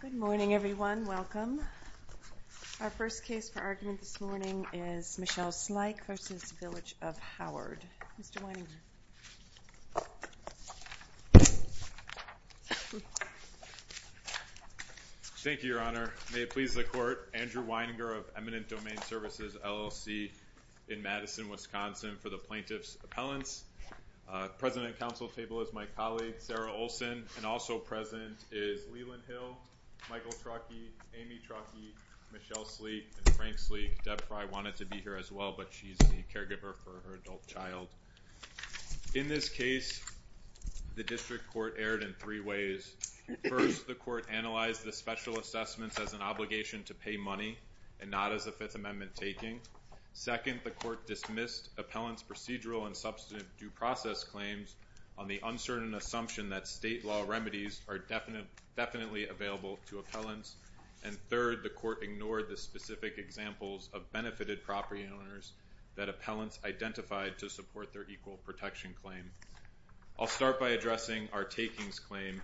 Good morning, everyone. Welcome. Our first case for argument this morning is Michelle Sleik v. Village of Howard. Mr. Weininger. Thank you, Your Honor. May it please the Court, Andrew Weininger of Eminent Domain Services, LLC, in Madison, Wisconsin, for the plaintiff's appellants. The President and Counsel at the table is my colleague, Sarah Olsen, and also present is Leland Hill, Michael Trockey, Amy Trockey, Michelle Sleik, and Frank Sleik. Deb probably wanted to be here as well, but she's the caregiver for her adult child. In this case, the District Court erred in three ways. First, the Court analyzed the special assessments as an obligation to pay money and not as a Fifth Amendment taking. Second, the Court dismissed appellants' procedural and substantive due process claims on the uncertain assumption that state law remedies are definitely available to appellants. And third, the Court ignored the specific examples of benefited property owners that appellants identified to support their equal protection claim. I'll start by addressing our takings claim.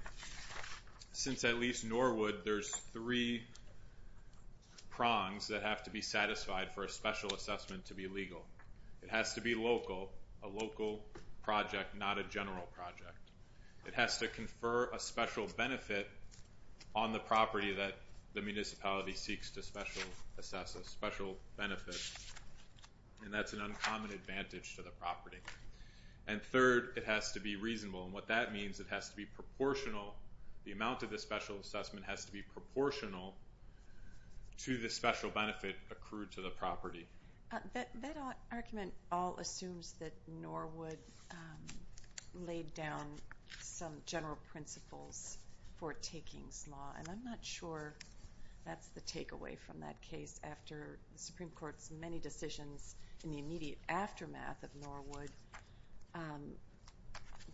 Since at least Norwood, there's three prongs that have to be satisfied for a special assessment to be legal. It has to be local, a local project, not a general project. It has to confer a special benefit on the property that the municipality seeks to special assess, a special benefit. And that's an uncommon advantage to the property. And third, it has to be reasonable. And what that means, it has to be proportional. The amount of the special assessment has to be proportional to the special benefit accrued to the property. That argument all assumes that Norwood laid down some general principles for takings law. And I'm not sure that's the takeaway from that case after the Supreme Court's many decisions in the immediate aftermath of Norwood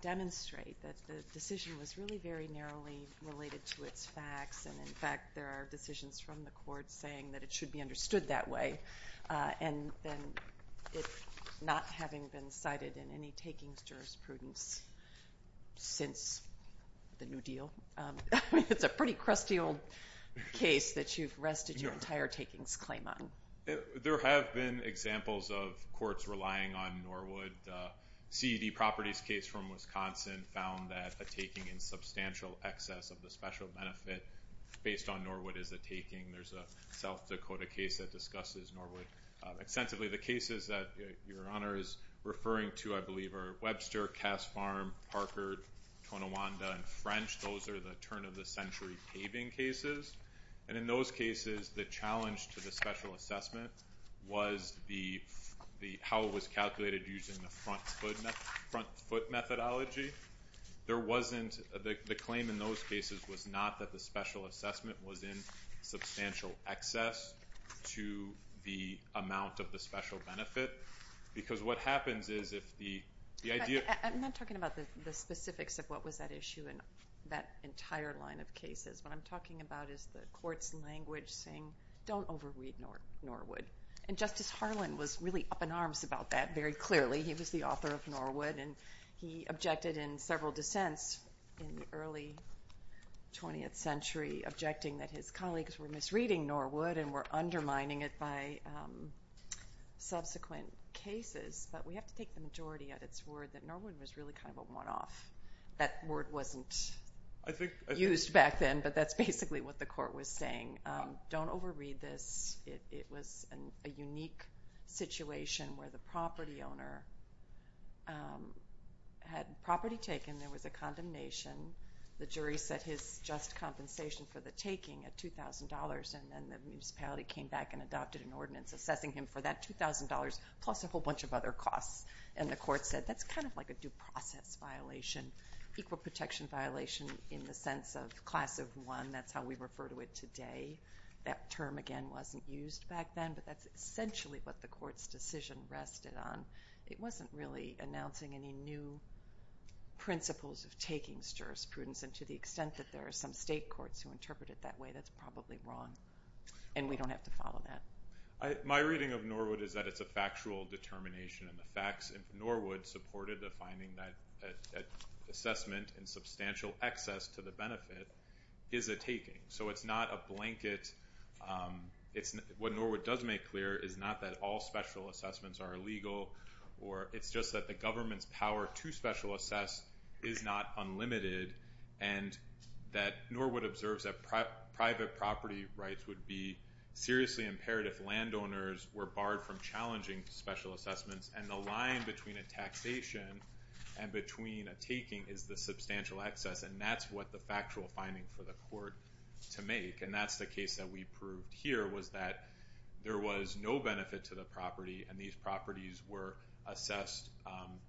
demonstrate that the decision was really very narrowly related to its facts. And, in fact, there are decisions from the Court saying that it should be understood that way. And then not having been cited in any takings jurisprudence since the New Deal, it's a pretty crusty old case that you've rested your entire takings claim on. There have been examples of courts relying on Norwood. CED Properties case from Wisconsin found that a taking in substantial excess of the special benefit based on Norwood is a taking. There's a South Dakota case that discusses Norwood. Extensively, the cases that Your Honor is referring to, I believe, are Webster, Cass Farm, Parker, Tonawanda, and French. Those are the turn-of-the-century paving cases. And in those cases, the challenge to the special assessment was how it was calculated using the front foot methodology. The claim in those cases was not that the special assessment was in substantial excess to the amount of the special benefit because what happens is if the idea— I'm not talking about the specifics of what was at issue in that entire line of cases. What I'm talking about is the court's language saying don't overread Norwood. And Justice Harlan was really up in arms about that very clearly. He was the author of Norwood, and he objected in several dissents in the early 20th century, objecting that his colleagues were misreading Norwood and were undermining it by subsequent cases. But we have to take the majority at its word that Norwood was really kind of a one-off. That word wasn't used back then, but that's basically what the court was saying. Don't overread this. It was a unique situation where the property owner had property taken. There was a condemnation. The jury set his just compensation for the taking at $2,000, and then the municipality came back and adopted an ordinance assessing him for that $2,000 plus a whole bunch of other costs. And the court said that's kind of like a due process violation, equal protection violation in the sense of class of one. That's how we refer to it today. That term, again, wasn't used back then, but that's essentially what the court's decision rested on. It wasn't really announcing any new principles of taking jurisprudence, and to the extent that there are some state courts who interpret it that way, that's probably wrong. And we don't have to follow that. My reading of Norwood is that it's a factual determination, and the facts of Norwood supported the finding that assessment and substantial excess to the benefit is a taking. So it's not a blanket. What Norwood does make clear is not that all special assessments are illegal, or it's just that the government's power to special assess is not unlimited, and that Norwood observes that private property rights would be seriously impaired if landowners were barred from challenging special assessments, and the line between a taxation and between a taking is the substantial excess, and that's what the factual finding for the court to make, and that's the case that we proved here was that there was no benefit to the property, and these properties were assessed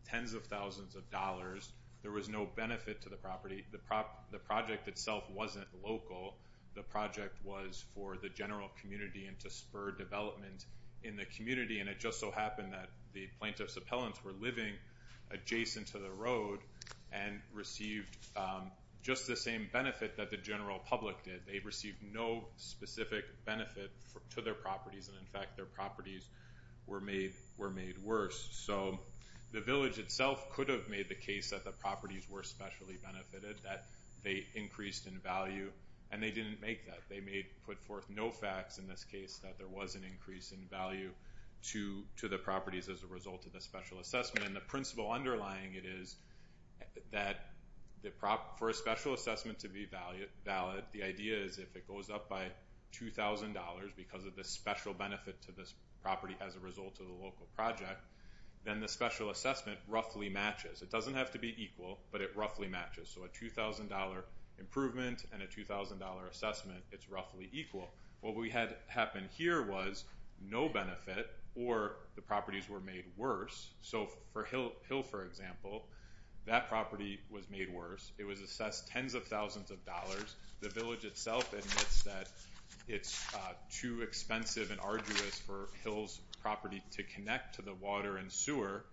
tens of thousands of dollars. There was no benefit to the property. The project itself wasn't local. The project was for the general community and to spur development in the community, and it just so happened that the plaintiff's appellants were living adjacent to the road and received just the same benefit that the general public did. They received no specific benefit to their properties, and, in fact, their properties were made worse. So the village itself could have made the case that the properties were specially benefited, that they increased in value, and they didn't make that. They put forth no facts in this case that there was an increase in value to the properties as a result of the special assessment, and the principle underlying it is that for a special assessment to be valid, the idea is if it goes up by $2,000 because of the special benefit to this property as a result of the local project, then the special assessment roughly matches. It doesn't have to be equal, but it roughly matches. So a $2,000 improvement and a $2,000 assessment, it's roughly equal. What we had happen here was no benefit or the properties were made worse. So for Hill, for example, that property was made worse. It was assessed tens of thousands of dollars. The village itself admits that it's too expensive and arduous for Hill's property to connect to the water and sewer,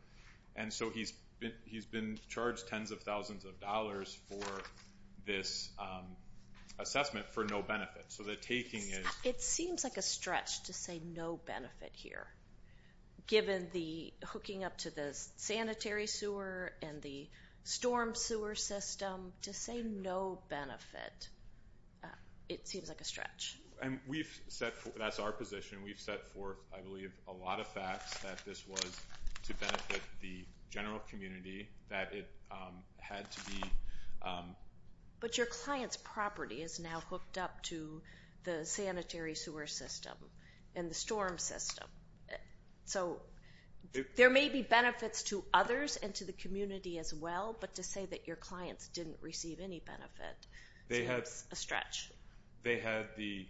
and so he's been charged tens of thousands of dollars for this assessment for no benefit. So the taking is... hooked up to the sanitary sewer and the storm sewer system to say no benefit. It seems like a stretch. That's our position. We've set forth, I believe, a lot of facts that this was to benefit the general community that it had to be... But your client's property is now hooked up to the sanitary sewer system and the storm system. So there may be benefits to others and to the community as well, but to say that your clients didn't receive any benefit seems a stretch. They had the...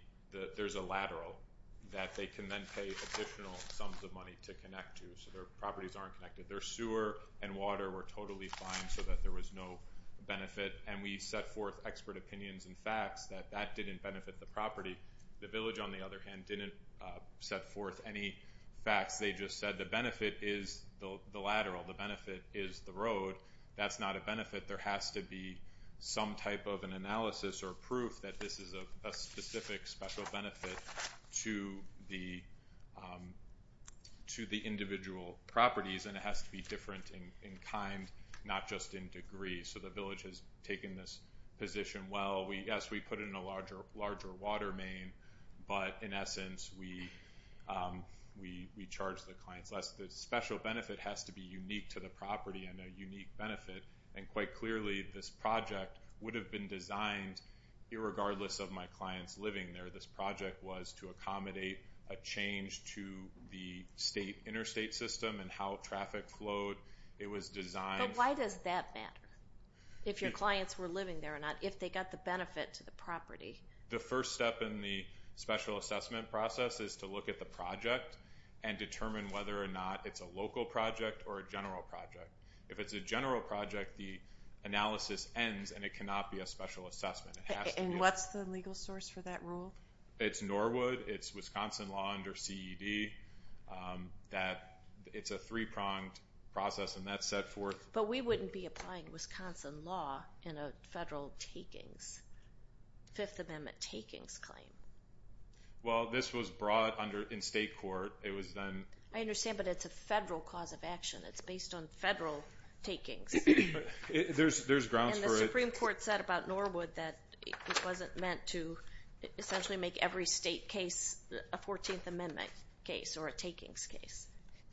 There's a lateral that they can then pay additional sums of money to connect to, so their properties aren't connected. Their sewer and water were totally fine so that there was no benefit, and we set forth expert opinions and facts that that didn't benefit the property. The village, on the other hand, didn't set forth any facts. They just said the benefit is the lateral. The benefit is the road. That's not a benefit. There has to be some type of an analysis or proof that this is a specific, special benefit to the individual properties, and it has to be different in kind, not just in degree. So the village has taken this position. Well, yes, we put it in a larger water main, but in essence we charge the clients less. The special benefit has to be unique to the property and a unique benefit, and quite clearly this project would have been designed, irregardless of my clients living there, this project was to accommodate a change to the interstate system and how traffic flowed. It was designed... The first step in the special assessment process is to look at the project and determine whether or not it's a local project or a general project. If it's a general project, the analysis ends, and it cannot be a special assessment. And what's the legal source for that rule? It's Norwood. It's Wisconsin law under CED. It's a three-pronged process, and that's set forth... Fifth Amendment takings claim. Well, this was brought in state court. It was then... I understand, but it's a federal cause of action. It's based on federal takings. There's grounds for it. And the Supreme Court said about Norwood that it wasn't meant to essentially make every state case a 14th Amendment case or a takings case.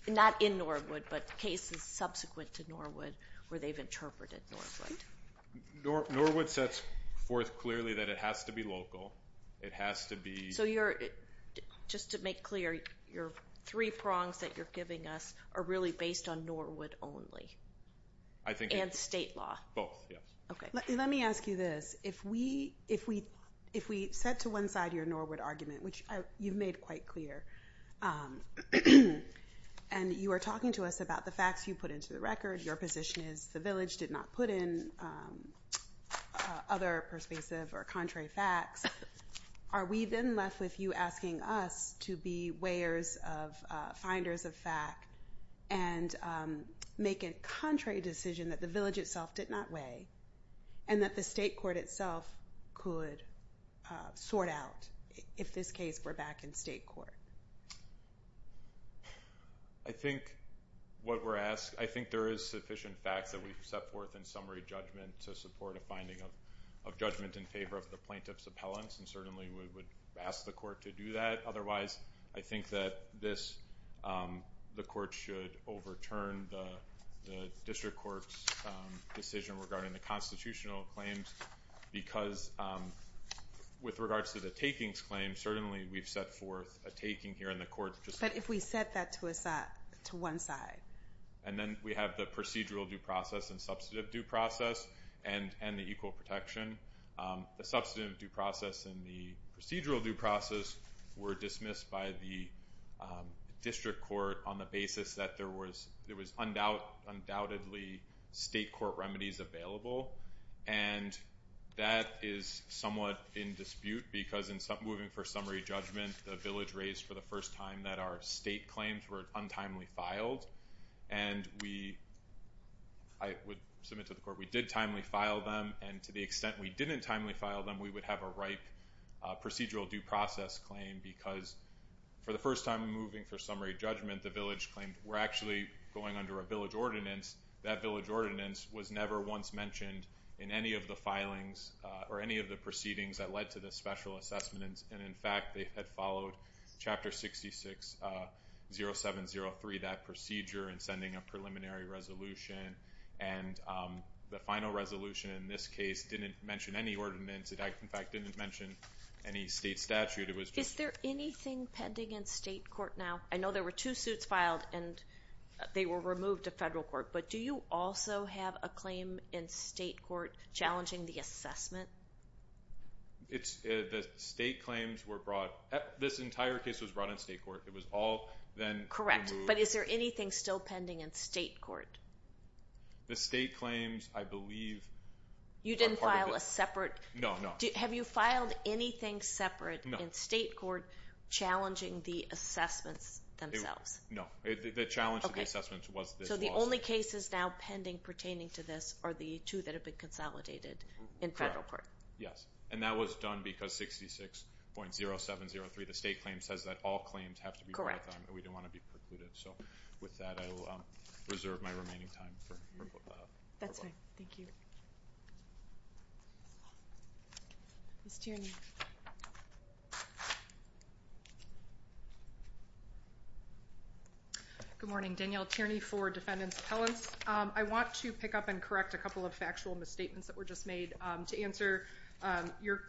Not in Norwood, but cases subsequent to Norwood where they've interpreted Norwood. Norwood sets forth clearly that it has to be local. It has to be... So you're... Just to make clear, your three prongs that you're giving us are really based on Norwood only. I think... And state law. Both, yeah. Okay. Let me ask you this. If we set to one side your Norwood argument, which you've made quite clear, and you are talking to us about the facts you put into the record, your position is the village did not put in other persuasive or contrary facts, are we then left with you asking us to be finders of fact and make a contrary decision that the village itself did not weigh and that the state court itself could sort out if this case were back in state court? I think what we're asked... I think there is sufficient fact that we've set forth in summary judgment to support a finding of judgment in favor of the plaintiff's appellants, and certainly we would ask the court to do that. Otherwise, I think that the court should overturn the district court's decision regarding the constitutional claims because with regards to the takings claim, certainly we've set forth a taking here in the court... But if we set that to one side... And then we have the procedural due process and substantive due process and the equal protection. The substantive due process and the procedural due process were dismissed by the district court on the basis that there was undoubtedly state court remedies available, and that is somewhat in dispute because in moving for summary judgment, the village raised for the first time that our state claims were untimely filed, and I would submit to the court we did timely file them, and to the extent we didn't timely file them, we would have a right procedural due process claim because for the first time moving for summary judgment, the village claimed we're actually going under a village ordinance. That village ordinance was never once mentioned in any of the filings or any of the proceedings that led to the special assessment, and in fact they had followed Chapter 66.0703, that procedure in sending a preliminary resolution, and the final resolution in this case didn't mention any ordinance. In fact, it didn't mention any state statute. Is there anything pending in state court now? I know there were two suits filed, and they were removed to federal court, but do you also have a claim in state court challenging the assessment? The state claims were brought – this entire case was brought in state court. It was all then removed. Correct, but is there anything still pending in state court? The state claims, I believe, are part of it. You didn't file a separate – No, no. Have you filed anything separate in state court challenging the assessments themselves? No, the challenge to the assessments was this lawsuit. The only cases now pending pertaining to this are the two that have been consolidated in federal court. Yes, and that was done because 66.0703, the state claim, says that all claims have to be brought down, and we didn't want to be precluded. So with that, I will reserve my remaining time for removal. That's fine. Thank you. Ms. Tierney. Good morning. Danielle Tierney for Defendants Appellants. I want to pick up and correct a couple of factual misstatements that were just made. To answer your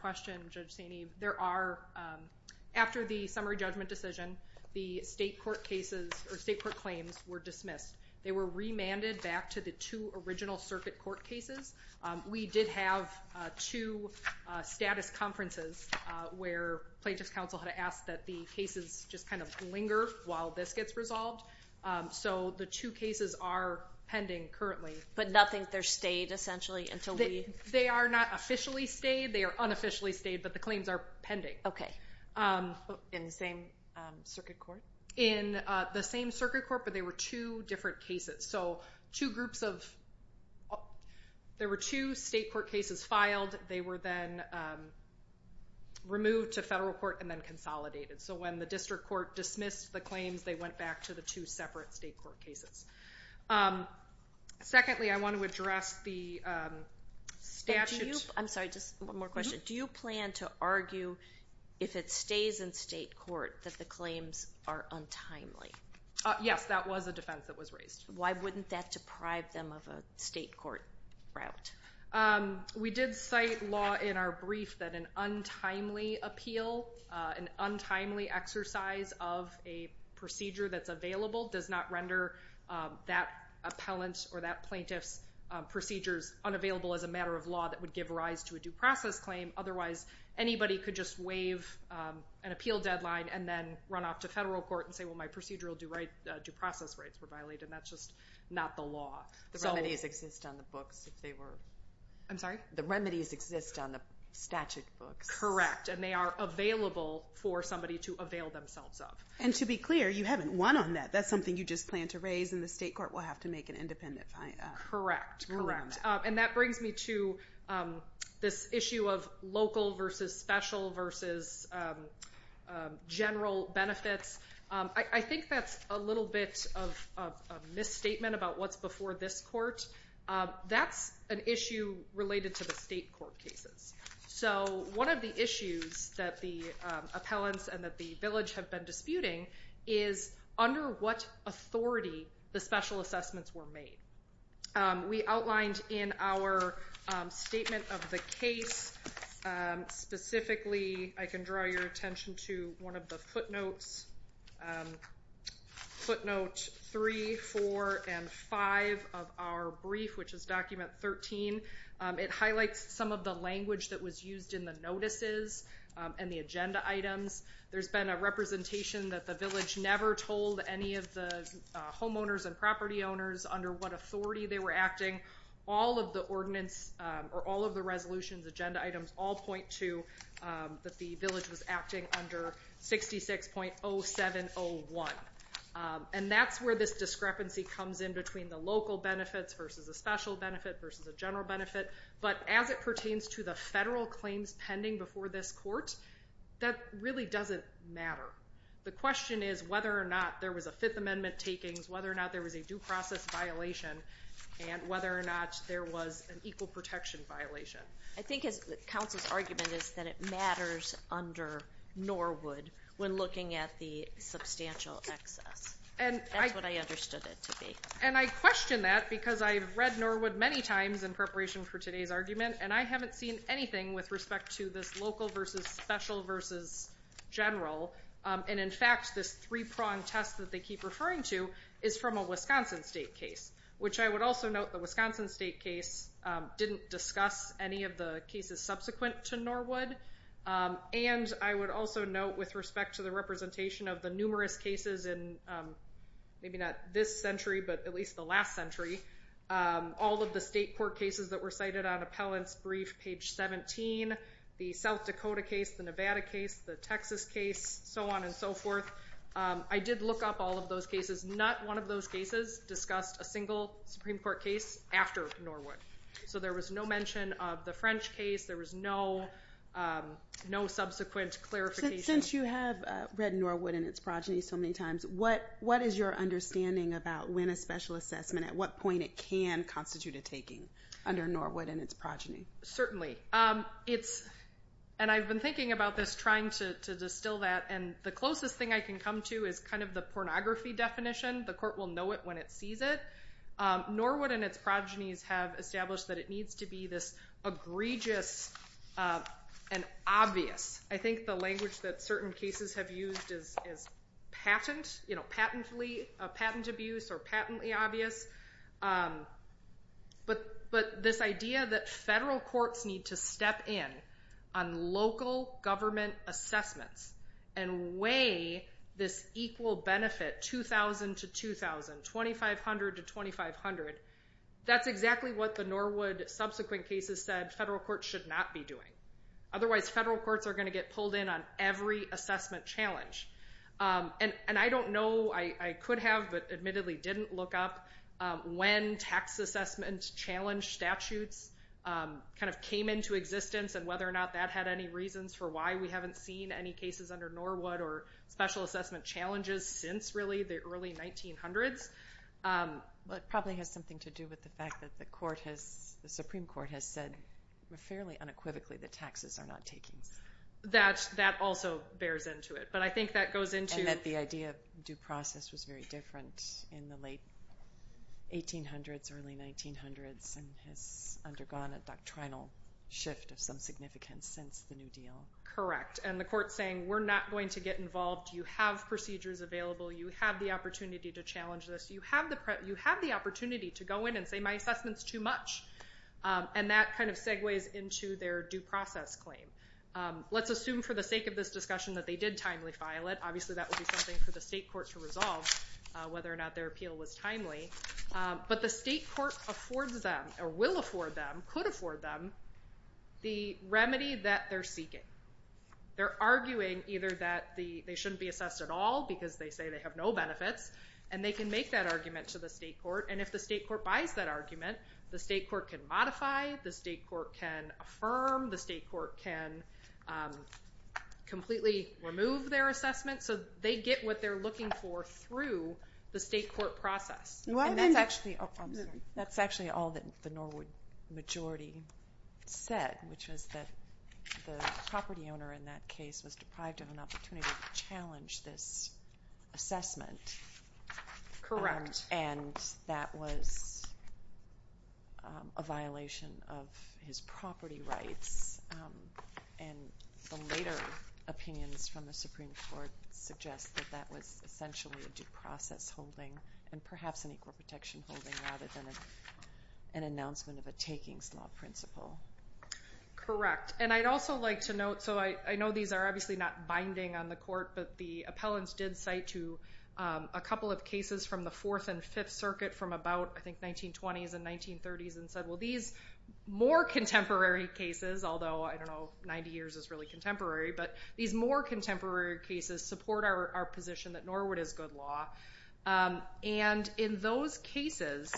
question, Judge Saney, there are – after the summary judgment decision, the state court cases or state court claims were dismissed. They were remanded back to the two original circuit court cases. We did have two status conferences where plaintiff's counsel had asked that the cases just kind of linger while this gets resolved. So the two cases are pending currently. But nothing – they're stayed, essentially, until we – They are not officially stayed. They are unofficially stayed, but the claims are pending. Okay. In the same circuit court? In the same circuit court, but they were two different cases. So two groups of – there were two state court cases filed. They were then removed to federal court and then consolidated. So when the district court dismissed the claims, they went back to the two separate state court cases. Secondly, I want to address the statute – I'm sorry. Just one more question. Do you plan to argue, if it stays in state court, that the claims are untimely? Yes, that was a defense that was raised. Why wouldn't that deprive them of a state court route? We did cite law in our brief that an untimely appeal, an untimely exercise of a procedure that's available, does not render that appellant or that plaintiff's procedures unavailable as a matter of law that would give rise to a due process claim. Otherwise, anybody could just waive an appeal deadline and then run off to federal court and say, well, my procedural due process rights were violated. That's just not the law. The remedies exist on the books if they were – I'm sorry? The remedies exist on the statute books. Correct, and they are available for somebody to avail themselves of. And to be clear, you haven't won on that. That's something you just plan to raise and the state court will have to make an independent – Correct, correct. And that brings me to this issue of local versus special versus general benefits. I think that's a little bit of a misstatement about what's before this court. That's an issue related to the state court cases. So one of the issues that the appellants and that the village have been disputing is under what authority the special assessments were made. We outlined in our statement of the case, specifically I can draw your attention to one of the footnotes, footnote 3, 4, and 5 of our brief, which is document 13. It highlights some of the language that was used in the notices and the agenda items. There's been a representation that the village never told any of the homeowners and property owners under what authority they were acting. All of the ordinance or all of the resolutions, agenda items, all point to that the village was acting under 66.0701. And that's where this discrepancy comes in between the local benefits versus a special benefit versus a general benefit. But as it pertains to the federal claims pending before this court, that really doesn't matter. The question is whether or not there was a Fifth Amendment takings, whether or not there was a due process violation, and whether or not there was an equal protection violation. I think Council's argument is that it matters under Norwood when looking at the substantial excess. That's what I understood it to be. And I question that because I've read Norwood many times in preparation for today's argument, and I haven't seen anything with respect to this local versus special versus general. And, in fact, this three-prong test that they keep referring to is from a Wisconsin state case, which I would also note the Wisconsin state case didn't discuss any of the cases subsequent to Norwood. And I would also note with respect to the representation of the numerous cases in maybe not this century, but at least the last century, all of the state court cases that were cited on appellant's brief, page 17, the South Dakota case, the Nevada case, the Texas case, so on and so forth. I did look up all of those cases. Not one of those cases discussed a single Supreme Court case after Norwood. So there was no mention of the French case. There was no subsequent clarification. Since you have read Norwood and its progeny so many times, what is your understanding about when a special assessment, at what point it can constitute a taking under Norwood and its progeny? Certainly. And I've been thinking about this, trying to distill that, and the closest thing I can come to is kind of the pornography definition. The court will know it when it sees it. Norwood and its progenies have established that it needs to be this egregious and obvious. I think the language that certain cases have used is patent, you know, patent abuse or patently obvious. But this idea that federal courts need to step in on local government assessments and weigh this equal benefit, 2,000 to 2,000, 2,500 to 2,500, that's exactly what the Norwood subsequent cases said federal courts should not be doing. Otherwise, federal courts are going to get pulled in on every assessment challenge. And I don't know, I could have, but admittedly didn't look up when tax assessment challenge statutes kind of came into existence and whether or not that had any reasons for why we haven't seen any cases under Norwood or special assessment challenges since, really, the early 1900s. It probably has something to do with the fact that the Supreme Court has said fairly unequivocally that taxes are not taken. That also bears into it. And that the idea of due process was very different in the late 1800s, early 1900s, and has undergone a doctrinal shift of some significance since the New Deal. Correct. And the court's saying we're not going to get involved. You have procedures available. You have the opportunity to challenge this. You have the opportunity to go in and say my assessment's too much. And that kind of segues into their due process claim. Let's assume for the sake of this discussion that they did timely file it. Obviously, that would be something for the state court to resolve whether or not their appeal was timely. But the state court affords them, or will afford them, could afford them, the remedy that they're seeking. They're arguing either that they shouldn't be assessed at all because they say they have no benefits, and they can make that argument to the state court. And if the state court buys that argument, the state court can modify. The state court can affirm. The state court can completely remove their assessment. So they get what they're looking for through the state court process. And that's actually all that the Norwood majority said, which was that the property owner in that case was deprived of an opportunity to challenge this assessment. Correct. And that was a violation of his property rights. And the later opinions from the Supreme Court suggest that that was essentially a due process holding and perhaps an equal protection holding rather than an announcement of a takings law principle. Correct. And I'd also like to note, so I know these are obviously not binding on the court, but the appellants did cite a couple of cases from the Fourth and Fifth Circuit from about, I think, 1920s and 1930s and said, well, these more contemporary cases, although, I don't know, 90 years is really contemporary, but these more contemporary cases support our position that Norwood is good law. And in those cases,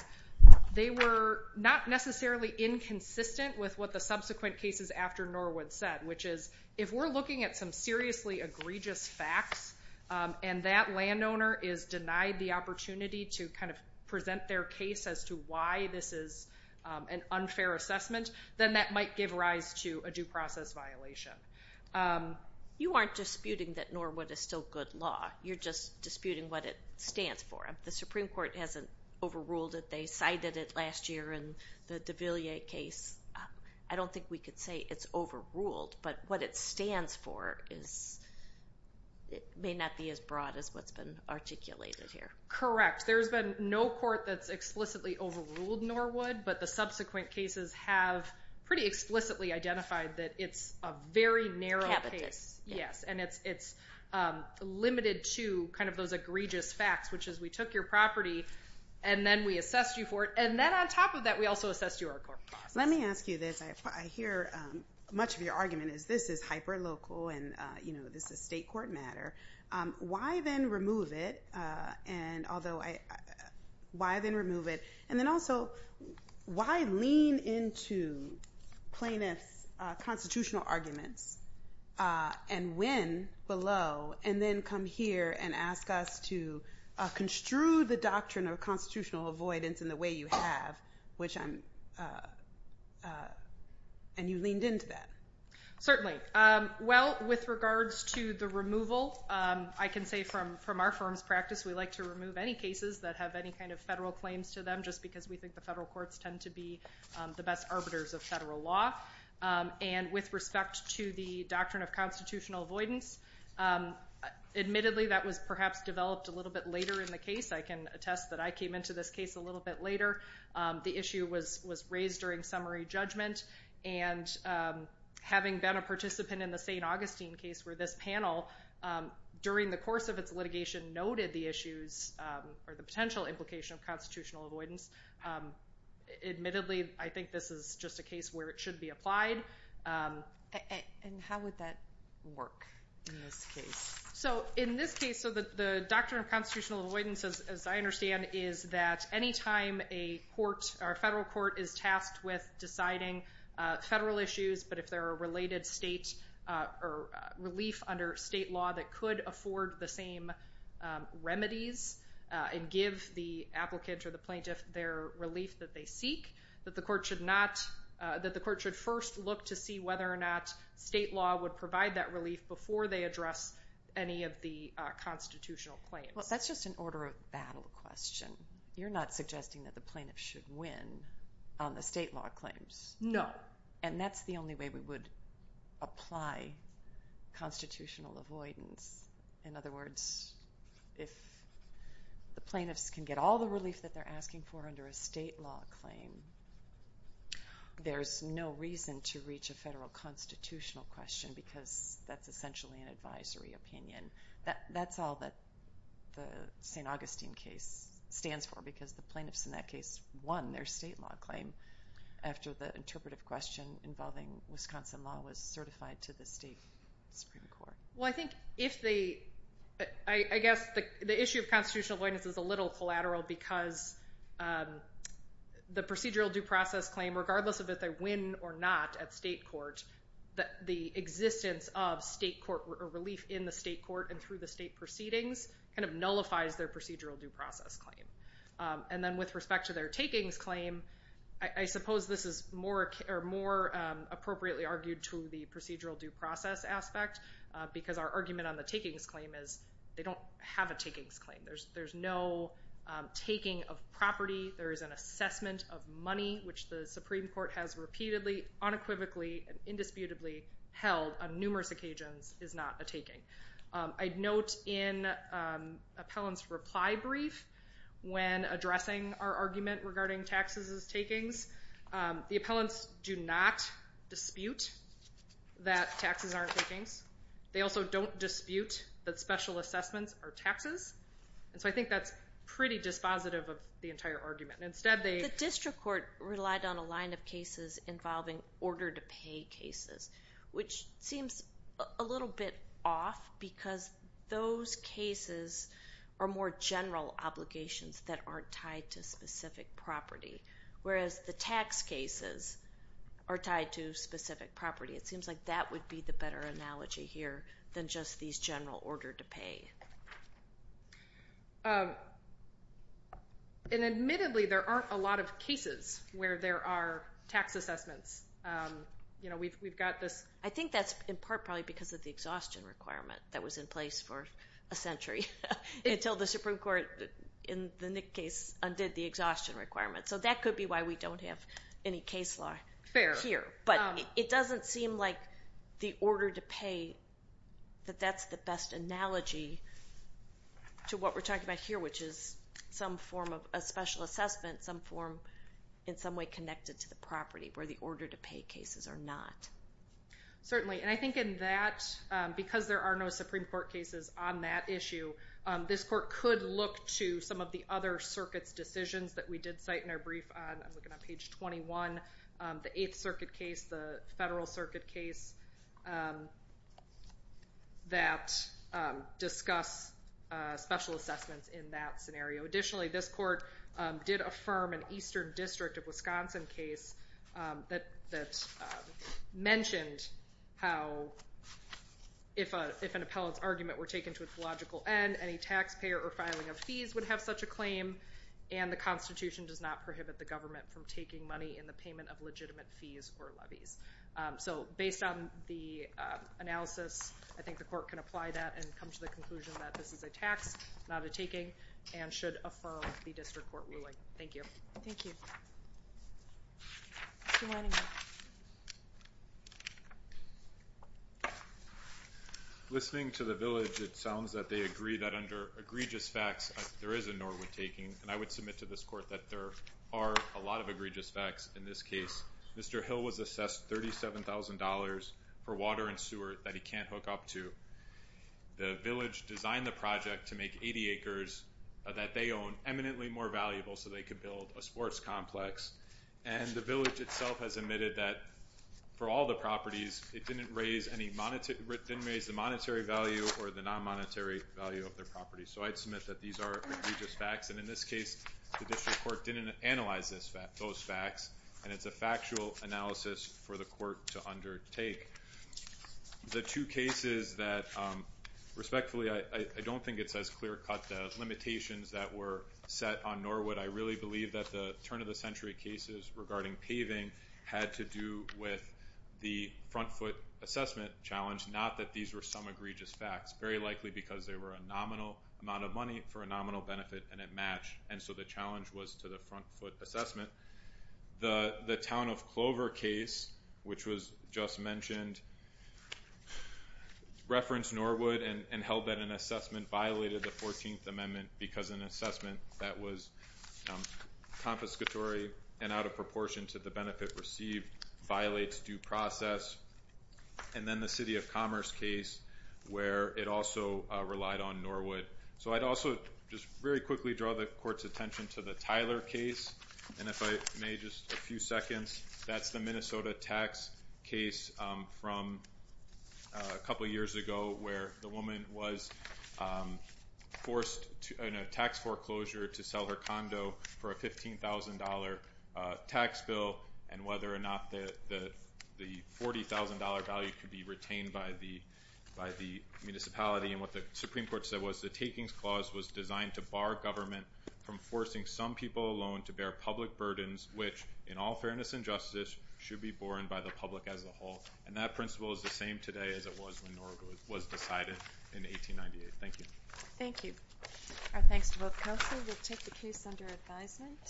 they were not necessarily inconsistent with what the subsequent cases after Norwood said, which is if we're looking at some seriously egregious facts and that landowner is denied the opportunity to kind of present their case as to why this is an unfair assessment, then that might give rise to a due process violation. You aren't disputing that Norwood is still good law. You're just disputing what it stands for. The Supreme Court hasn't overruled it. They cited it last year in the de Villiers case. I don't think we could say it's overruled, but what it stands for may not be as broad as what's been articulated here. Correct. There's been no court that's explicitly overruled Norwood, but the subsequent cases have pretty explicitly identified that it's a very narrow case. Yes, and it's limited to kind of those egregious facts, which is we took your property and then we assessed you for it, and then on top of that, we also assessed your court process. Let me ask you this. I hear much of your argument is this is hyperlocal and, you know, this is state court matter. Why then remove it, and then also, why lean into plaintiff's constitutional arguments and win below and then come here and ask us to construe the doctrine of constitutional avoidance in the way you have, and you leaned into that. Certainly. Well, with regards to the removal, I can say from our firm's practice, we like to remove any cases that have any kind of federal claims to them just because we think the federal courts tend to be the best arbiters of federal law. And with respect to the doctrine of constitutional avoidance, admittedly that was perhaps developed a little bit later in the case. I can attest that I came into this case a little bit later. The issue was raised during summary judgment, and having been a participant in the St. Augustine case where this panel, during the course of its litigation, noted the issues or the potential implication of constitutional avoidance. Admittedly, I think this is just a case where it should be applied. And how would that work in this case? So in this case, so the doctrine of constitutional avoidance, as I understand, is that any time a court or a federal court is tasked with deciding federal issues, but if there are related state or relief under state law that could afford the same remedies and give the applicant or the plaintiff their relief that they seek, that the court should first look to see whether or not state law would provide that relief before they address any of the constitutional claims. Well, that's just an order of battle question. You're not suggesting that the plaintiff should win on the state law claims. And that's the only way we would apply constitutional avoidance. In other words, if the plaintiffs can get all the relief that they're asking for under a state law claim, there's no reason to reach a federal constitutional question because that's essentially an advisory opinion. That's all that the St. Augustine case stands for because the plaintiffs in that case won their state law claim after the interpretive question involving Wisconsin law was certified to the state Supreme Court. Well, I think if they... I guess the issue of constitutional avoidance is a little collateral because the procedural due process claim, regardless of if they win or not at state court, the existence of relief in the state court and through the state proceedings nullifies their procedural due process claim. And then with respect to their takings claim, I suppose this is more appropriately argued to the procedural due process aspect because our argument on the takings claim is they don't have a takings claim. There's no taking of property. There is an assessment of money, which the Supreme Court has repeatedly, unequivocally, and indisputably held on numerous occasions is not a taking. I'd note in appellant's reply brief when addressing our argument regarding taxes as takings, the appellants do not dispute that taxes aren't takings. They also don't dispute that special assessments are taxes. And so I think that's pretty dispositive of the entire argument. Instead, they... The district court relied on a line of cases involving order-to-pay cases, which seems a little bit off because those cases are more general obligations that aren't tied to specific property, whereas the tax cases are tied to specific property. It seems like that would be the better analogy here than just these general order-to-pay. And admittedly, there aren't a lot of cases where there are tax assessments. You know, we've got this... I think that's in part probably because of the exhaustion requirement that was in place for a century until the Supreme Court, in the Nick case, undid the exhaustion requirement. So that could be why we don't have any case law here. But it doesn't seem like the order-to-pay, that that's the best analogy to what we're talking about here, which is some form of a special assessment, some form in some way connected to the property where the order-to-pay cases are not. Certainly. And I think in that, because there are no Supreme Court cases on that issue, this court could look to some of the other circuits' decisions that we did cite in our brief on. I'm looking on page 21. The 8th Circuit case, the Federal Circuit case. That discuss special assessments in that scenario. Additionally, this court did affirm an Eastern District of Wisconsin case that mentioned how if an appellant's argument were taken to its logical end, any taxpayer or filing of fees would have such a claim, and the Constitution does not prohibit the government from taking money in the payment of legitimate fees or levies. So based on the analysis, I think the court can apply that and come to the conclusion that this is a tax, not a taking, and should affirm the district court ruling. Thank you. Thank you. Mr. Leningrad. Listening to the village, it sounds that they agree that under egregious facts, there is a nor would taking, and I would submit to this court that there are a lot of egregious facts in this case. Mr. Hill was assessed $37,000 for water and sewer that he can't hook up to. The village designed the project to make 80 acres that they own eminently more valuable so they could build a sports complex, and the village itself has admitted that for all the properties, it didn't raise the monetary value or the non-monetary value of their property. So I'd submit that these are egregious facts, and in this case, the district court didn't analyze those facts, and it's a factual analysis for the court to undertake. The two cases that, respectfully, I don't think it says clear-cut the limitations that were set on nor would. I really believe that the turn-of-the-century cases regarding paving had to do with the front foot assessment challenge, not that these were some egregious facts, very likely because they were a nominal amount of money for a nominal benefit, and it matched, and so the challenge was to the front foot assessment. The Town of Clover case, which was just mentioned, referenced nor would and held that an assessment violated the 14th Amendment because an assessment that was confiscatory and out of proportion to the benefit received violates due process. And then the City of Commerce case where it also relied on nor would. So I'd also just very quickly draw the court's attention to the Tyler case, and if I may, just a few seconds. That's the Minnesota tax case from a couple years ago where the woman was forced in a tax foreclosure to sell her condo for a $15,000 tax bill and whether or not the $40,000 value could be retained by the municipality. And what the Supreme Court said was the takings clause was designed to bar government from forcing some people alone to bear public burdens which, in all fairness and justice, should be borne by the public as a whole. And that principle is the same today as it was when nor would was decided in 1898. Thank you. Thank you. Our thanks to both counsel. We'll take the case under advisement.